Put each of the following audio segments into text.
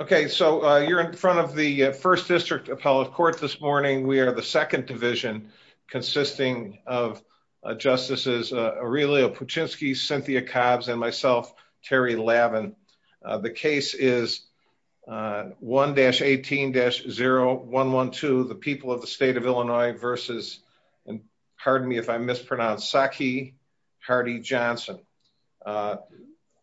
Okay, so you're in front of the First District Appellate Court this morning. We are the second division consisting of Justices Aurelio Puczynski, Cynthia Cobbs, and myself, Terry Lavin. The case is 1-18-0112, the people of the state of Illinois versus, and pardon me if I mispronounce, Sakhi Hardy Johnson.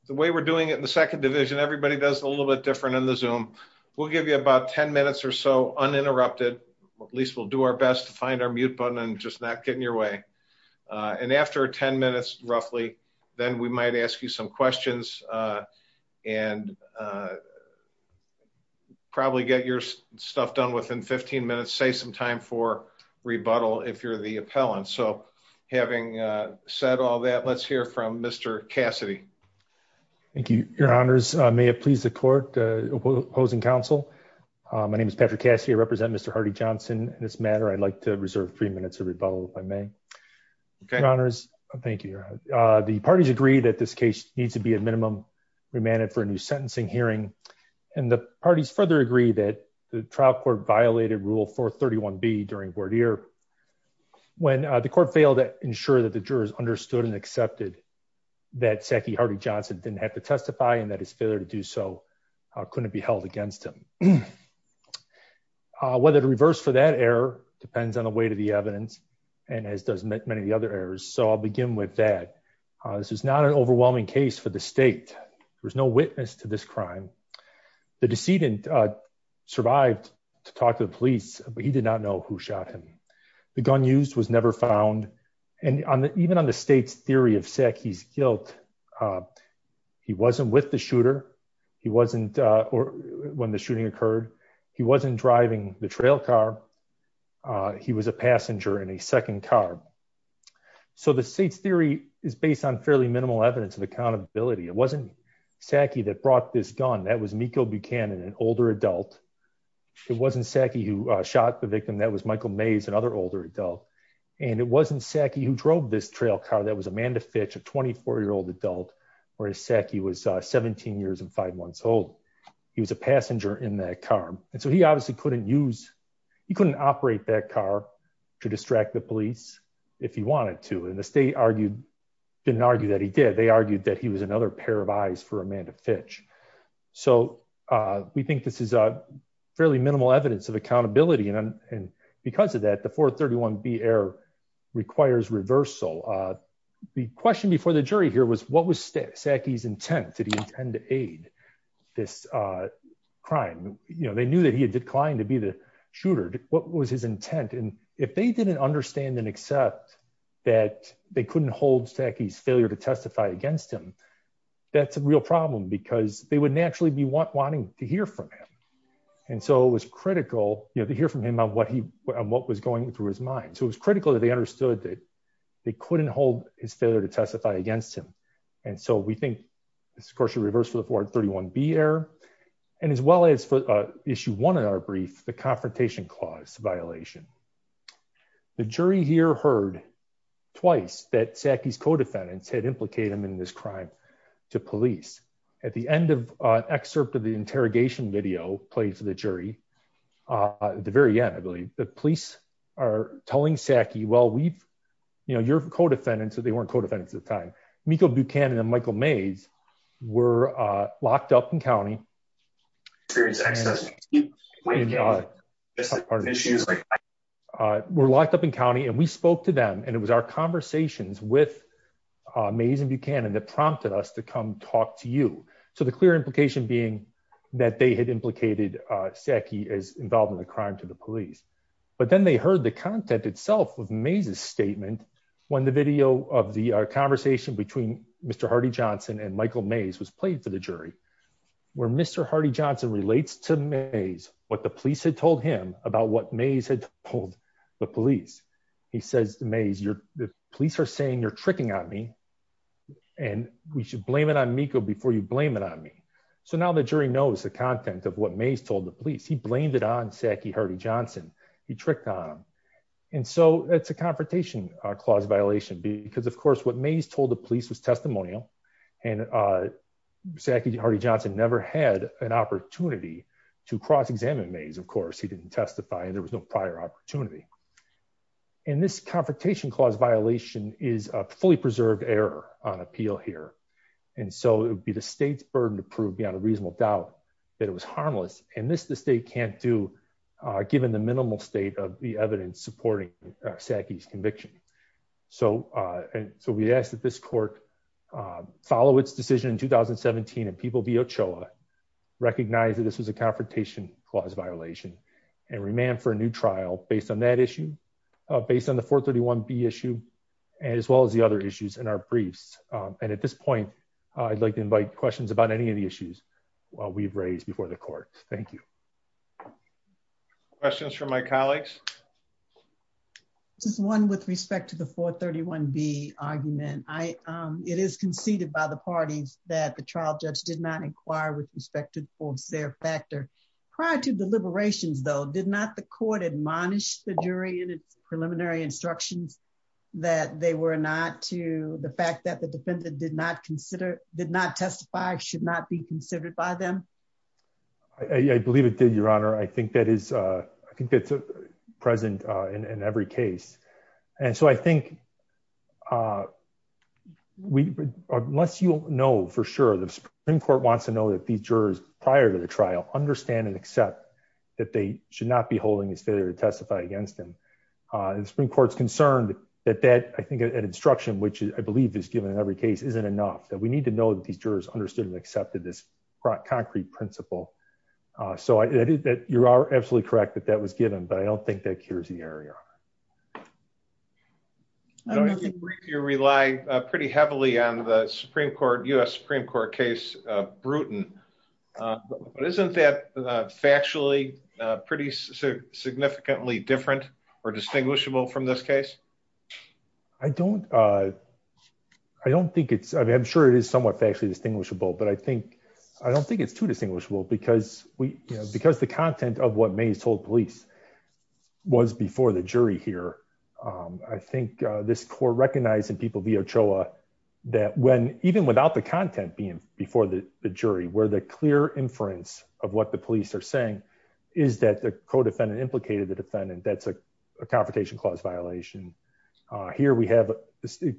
The way we're doing it in the second division, everybody does a little bit in the Zoom. We'll give you about 10 minutes or so uninterrupted. At least we'll do our best to find our mute button and just not get in your way. And after 10 minutes, roughly, then we might ask you some questions and probably get your stuff done within 15 minutes, save some time for rebuttal if you're the appellant. So having said all that, let's hear from Mr. Cassidy. Thank you, your honors. May it please the court, opposing counsel. My name is Patrick Cassidy. I represent Mr. Hardy Johnson. In this matter, I'd like to reserve three minutes of rebuttal if I may. Your honors, thank you. The parties agree that this case needs to be at minimum remanded for a new sentencing hearing. And the parties further agree that the trial court violated Rule 431B during voir dire. When the court failed to ensure that the jurors understood and accepted that Sackey Hardy Johnson didn't have to testify and that his failure to do so couldn't be held against him. Whether to reverse for that error depends on the weight of the evidence and as does many other errors. So I'll begin with that. This is not an overwhelming case for the state. There was no witness to this crime. The decedent survived to talk to the police, but he did not know who shot him. The gun used was never found. And even on the state's theory of Sackey's guilt, he wasn't with the shooter. He wasn't or when the shooting occurred, he wasn't driving the trail car. He was a passenger in a second car. So the state's theory is based on fairly minimal evidence of accountability. It wasn't Sackey that brought this gun. That was Miko Buchanan, an older adult. It wasn't Sackey who shot the victim. That was Michael Mays, another older adult. And it wasn't Sackey who drove this trail car. That was Amanda Fitch, a 24-year-old adult, whereas Sackey was 17 years and five months old. He was a passenger in that car. And so he obviously couldn't use, he couldn't operate that car to distract the police if he wanted to. And the state argued, didn't argue that he did. They argued that he was another pair of eyes for Amanda Fitch. So we think this is fairly minimal evidence of accountability. And because of that, the 431B error requires reversal. The question before the jury here was what was Sackey's intent? Did he intend to aid this crime? They knew that he had declined to be the shooter. What was his intent? And if they didn't understand and accept that they couldn't hold Sackey's failure to testify against him, that's a real problem because they would naturally be wanting to hear from him. And so it was critical, you know, to hear from him on what he, on what was going through his mind. So it was critical that they understood that they couldn't hold his failure to testify against him. And so we think this, of course, should reverse for the 431B error and as well as for issue one in our brief, the confrontation clause violation. The jury here heard twice that Sackey's co-defendants had implicated him in this crime to police. At the end of an excerpt of the interrogation video played for the jury, at the very end, I believe, the police are telling Sackey, well, we've, you know, you're co-defendants. They weren't co-defendants at the time. Miko Buchanan and Michael Mays were locked up in county. We're locked up in county and we spoke to them and it was our to come talk to you. So the clear implication being that they had implicated Sackey as involved in the crime to the police. But then they heard the content itself of Mays' statement when the video of the conversation between Mr. Hardy-Johnson and Michael Mays was played for the jury, where Mr. Hardy-Johnson relates to Mays what the police had told him about what Mays had told the police. He says to Mays, the police are saying you're tricking on me and we should blame it on Miko before you blame it on me. So now the jury knows the content of what Mays told the police. He blamed it on Sackey Hardy-Johnson. He tricked on him. And so it's a confrontation clause violation because of course what Mays told the police was testimonial and Sackey Hardy-Johnson never had an opportunity to cross-examine Mays. Of course, he didn't testify and there was no prior opportunity. And this confrontation clause violation is a fully preserved error on appeal here. And so it would be the state's burden to prove beyond a reasonable doubt that it was harmless. And this the state can't do given the minimal state of the evidence supporting Sackey's conviction. So we asked that this court follow its decision in 2017 and people Ochoa recognize that this was a confrontation clause violation and remand for a new trial based on that issue, based on the 431B issue, as well as the other issues in our briefs. And at this point, I'd like to invite questions about any of the issues while we've raised before the court. Thank you. Questions from my colleagues? Just one with respect to the 431B argument. It is conceded by the parties that the trial judge did not inquire with respect to the fulvescere factor. Prior to deliberations, though, did not the court admonish the jury in its preliminary instructions that they were not to the fact that the defendant did not consider, did not testify, should not be considered by them? I believe it did, Your Honor. I think that is, I think that's present in every case. And so I think unless you know for sure, the Supreme Court wants to know that these jurors prior to the trial understand and accept that they should not be holding this failure to testify against them. The Supreme Court's concerned that that, I think at instruction, which I believe is given in every case, isn't enough, that we need to know that these jurors understood and accepted this concrete principle. So you are absolutely correct that that was given, but I don't think that cures the error, Your Honor. I believe you rely pretty heavily on the Supreme Court, U.S. Supreme Court case, Bruton. Isn't that factually pretty significantly different or distinguishable from this case? I don't, I don't think it's, I'm sure it is somewhat factually distinguishable, but I think, I don't think it's too distinguishable because we, because the content of what Mays told police was before the jury here. I think this court recognized in people via Ochoa that when, even without the content being before the jury, where the clear inference of what the police are saying is that the co-defendant implicated the defendant, that's a confrontation clause violation. Here we have,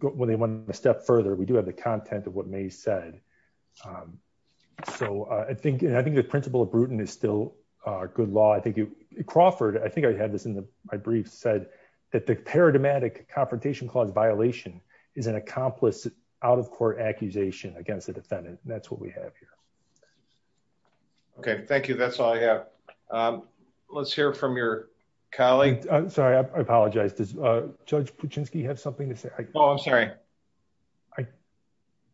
when they went a step further, we do have the content of what Mays said. So I think, and I think the principle of Bruton is still a good law. I think it Crawford, I think I had this in the, my brief said that the paradigmatic confrontation clause violation is an accomplice out of court accusation against the defendant. And that's what we have here. Okay. Thank you. That's all I have. Let's hear from your colleague. I'm sorry. I apologize. Does Judge Kuczynski have something to say? Oh, I'm sorry.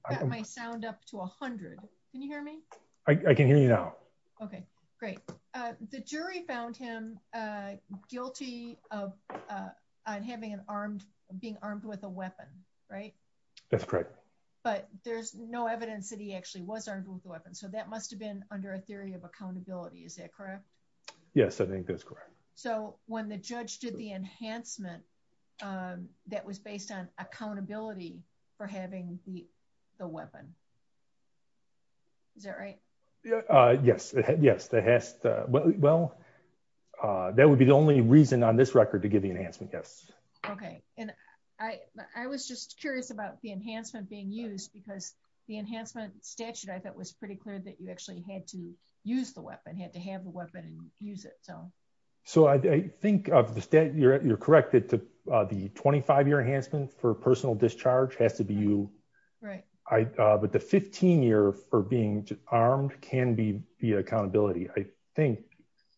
I got my sound up to a hundred. Can you hear me? I can hear you now. Okay, great. The jury found him guilty of having an armed, being armed with a weapon, right? That's correct. But there's no evidence that he actually was armed with a weapon. So that must have been under a theory of accountability. Is that correct? Yes, I think that's correct. So when the judge did the enhancement, that was based on accountability for having the weapon. Is that right? Yes. Yes. Well, that would be the only reason on this record to give the enhancement. Yes. Okay. And I was just curious about the enhancement being used because the enhancement statute, I thought was pretty clear that you actually had to have a weapon and use it. So I think you're correct that the 25-year enhancement for personal discharge has to be you. Right. But the 15-year for being armed can be via accountability. I think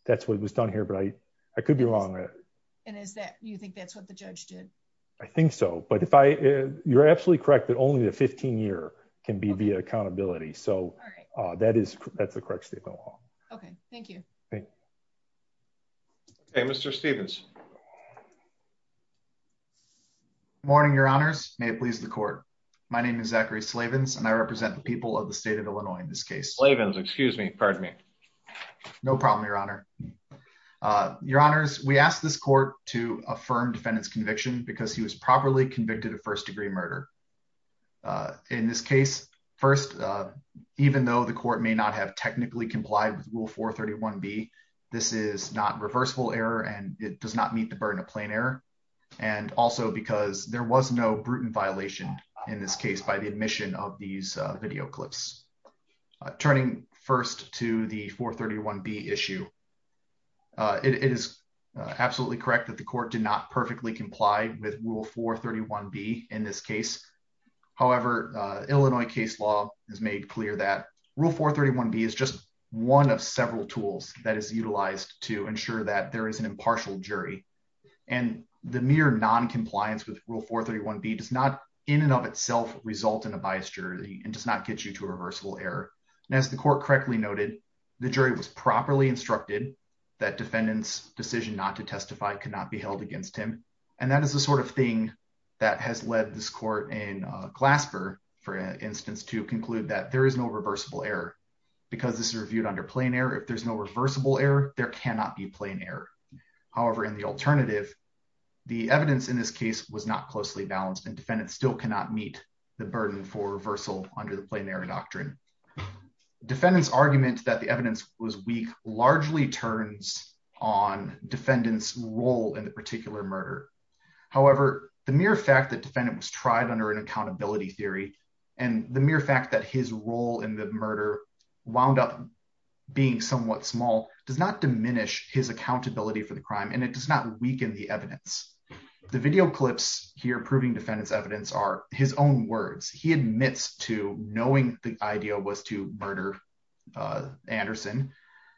that's what was done here, but I could be wrong. And is that, you think that's what the judge did? I think so. But if I, you're absolutely correct that only the 15-year can be via accountability. Okay. Thank you. Hey, Mr. Stevens. Morning, your honors. May it please the court. My name is Zachary Slavins and I represent the people of the state of Illinois in this case. Slavins, excuse me. Pardon me. No problem, your honor. Your honors, we asked this court to affirm defendant's conviction because he was properly convicted of first degree murder. In this case, first, even though the court may not have technically complied with rule 431B, this is not reversible error and it does not meet the burden of plain error. And also because there was no brutal violation in this case by the admission of these video clips. Turning first to the 431B issue, it is absolutely correct that the court did not perfectly comply with rule 431B in this case. However, Illinois case law has made clear that rule 431B is just one of several tools that is utilized to ensure that there is an impartial jury. And the mere non-compliance with rule 431B does not in and of itself result in a biased jury and does not get you to a reversible error. And as the court correctly noted, the jury was properly instructed that defendant's decision not to testify could not be held against him. And that is the sort of thing that has led this court in Glasper, for instance, to conclude that there is no reversible error because this is reviewed under plain error. If there's no reversible error, there cannot be plain error. However, in the alternative, the evidence in this case was not closely balanced and defendants still cannot meet the burden for reversal under the plain error doctrine. Defendant's argument that the evidence was weak largely turns on defendant's role in the particular murder. However, the mere fact that defendant was tried under an accountability theory and the mere fact that his role in the murder wound up being somewhat small does not diminish his accountability for the crime and it does not weaken the evidence. The video clips here proving defendant's evidence are his own words. He admits to knowing the idea was to murder Anderson.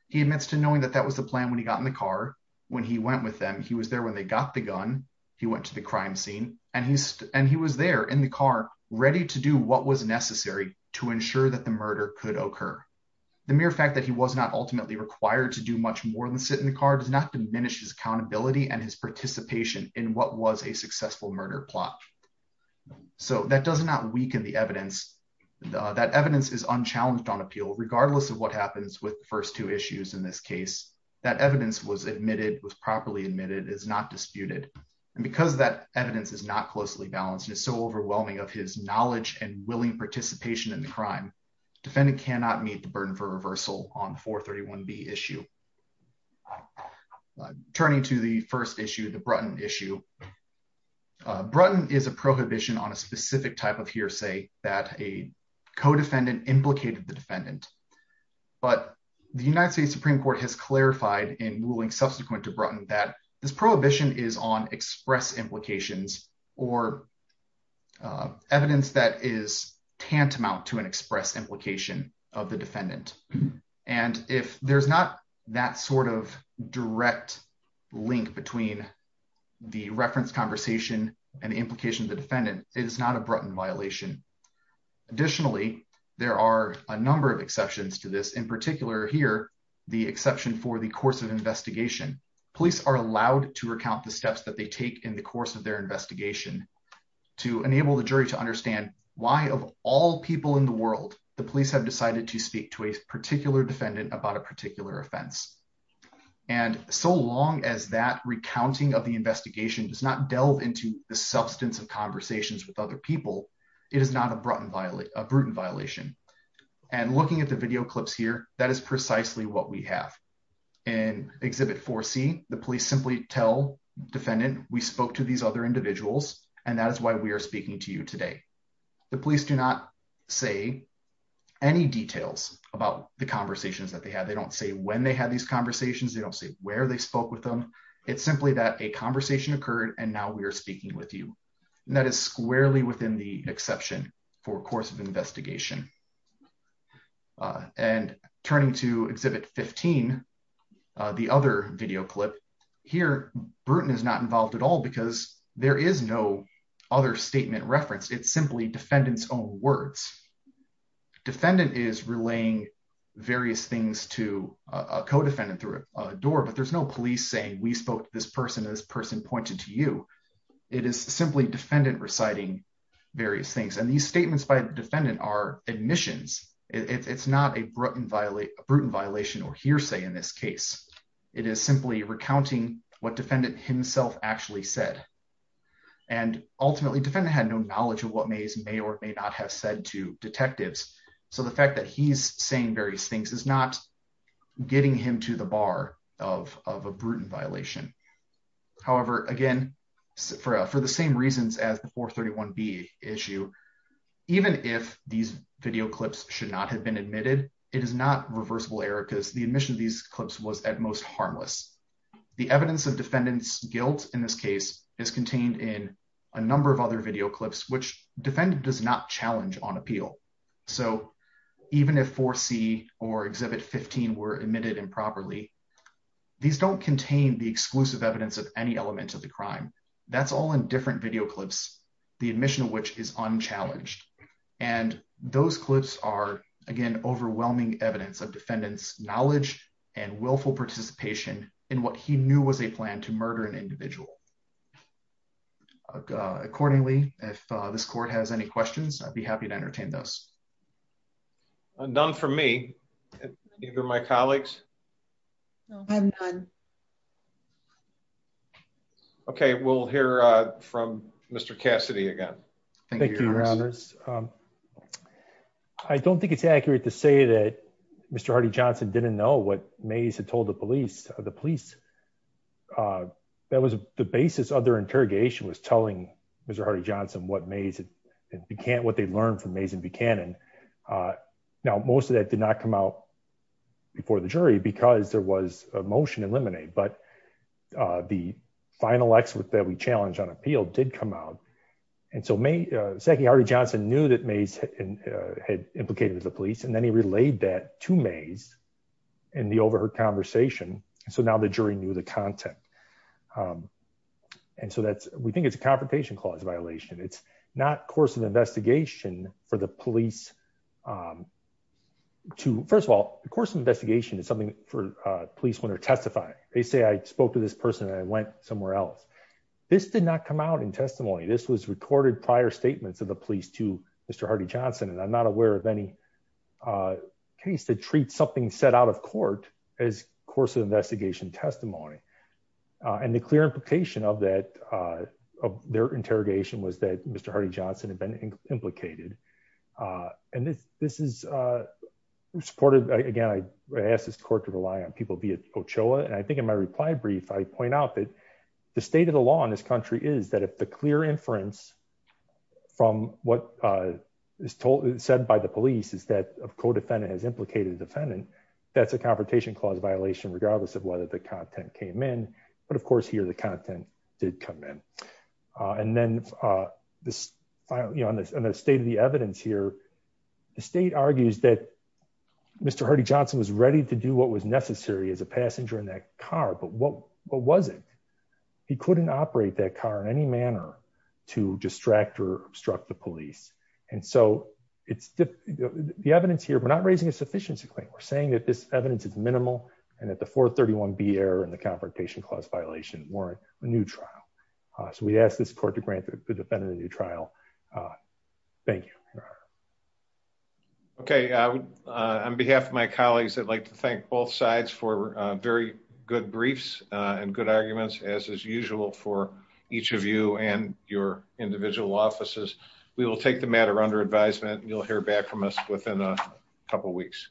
He admits to knowing that that was the plan when he got in the car when he went with them. He was there the gun. He went to the crime scene and he was there in the car ready to do what was necessary to ensure that the murder could occur. The mere fact that he was not ultimately required to do much more than sit in the car does not diminish his accountability and his participation in what was a successful murder plot. So that does not weaken the evidence. That evidence is unchallenged on appeal regardless of what happens with the first two issues in this case. That evidence was properly admitted is not disputed and because that evidence is not closely balanced and is so overwhelming of his knowledge and willing participation in the crime, defendant cannot meet the burden for reversal on 431B issue. Turning to the first issue, the Brutton issue. Brutton is a prohibition on a specific type of hearsay that a co-defendant implicated the Brutton that this prohibition is on express implications or evidence that is tantamount to an express implication of the defendant. And if there's not that sort of direct link between the reference conversation and the implication of the defendant, it is not a Brutton violation. Additionally, there are a number of exceptions to this. In particular here, the exception for the course of investigation, police are allowed to recount the steps that they take in the course of their investigation to enable the jury to understand why of all people in the world, the police have decided to speak to a particular defendant about a particular offense. And so long as that recounting of the investigation does not delve into the substance of conversations with other people, it is not a Brutton violation. And looking at the video here, that is precisely what we have. In exhibit 4C, the police simply tell the defendant, we spoke to these other individuals and that is why we are speaking to you today. The police do not say any details about the conversations that they had. They don't say when they had these conversations. They don't say where they spoke with them. It's simply that a conversation occurred and now we are speaking with you. And that is squarely within the exception for course of investigation. And turning to exhibit 15, the other video clip, here, Brutton is not involved at all because there is no other statement referenced. It's simply defendant's own words. Defendant is relaying various things to a co-defendant through a door, but there's no police saying we spoke to this person and this person pointed to you. It is simply defendant reciting various things. And these statements by defendant are admissions. It's not a Brutton violation or hearsay in this case. It is simply recounting what defendant himself actually said. And ultimately, defendant had no knowledge of what may or may not have said to detectives. So the fact that he's saying various things is not getting him to the bar of a Brutton violation. However, again, for the same reasons as the 431B issue, even if these video clips should not have been admitted, it is not reversible error because the admission of these clips was at most harmless. The evidence of defendant's guilt in this case is contained in a number of other video clips, which defendant does not challenge on appeal. So even if 4C or Exhibit 15 were admitted improperly, these don't contain the exclusive evidence of any element of the crime. That's all in different video clips, the admission of which is unchallenged. And those clips are, again, overwhelming evidence of defendant's knowledge and willful participation in what he knew was a plan to murder an individual. Accordingly, if this court has any questions, please do. None from me. Neither my colleagues. I have none. Okay. We'll hear from Mr. Cassidy again. I don't think it's accurate to say that Mr. Hardy-Johnson didn't know what Mays had told the police or the police. That was the basis of their interrogation was telling Mr. Hardy-Johnson what Mays and Buchanan, what they learned from Mays and Buchanan. Now, most of that did not come out before the jury because there was a motion to eliminate, but the final excerpt that we challenged on appeal did come out. And so May, secondly, Hardy-Johnson knew that Mays had implicated with the police, and then he relayed that to Mays in the overheard conversation. So now the jury knew the content. And so that's, we think it's a confrontation clause violation. It's not course of investigation for the police to, first of all, the course of investigation is something for police when they're testifying. They say, I spoke to this person and I went somewhere else. This did not come out in testimony. This was recorded prior statements of the police to Mr. Hardy-Johnson. And I'm not aware of any case that treats something set out of court as course of investigation testimony. And the clear implication of that, of their interrogation was that Mr. Hardy-Johnson had been implicated. And this is supported, again, I asked this court to rely on people via OCHOA. And I think in my reply brief, I point out that the state of the law in this country is that if the clear inference from what is said by the police is that a co-defendant has implicated a man, but of course here, the content did come in. And then the state of the evidence here, the state argues that Mr. Hardy-Johnson was ready to do what was necessary as a passenger in that car, but what was it? He couldn't operate that car in any manner to distract or obstruct the police. And so the evidence here, we're not raising a sufficiency claim. We're saying that this evidence is minimal and that the 431B error and the confrontation clause violation warrant a new trial. So we ask this court to grant the defendant a new trial. Thank you. Okay. On behalf of my colleagues, I'd like to thank both sides for very good briefs and good arguments as is usual for each of you and your individual offices. We will take the matter under advisement and you'll hear back from us within a couple of weeks.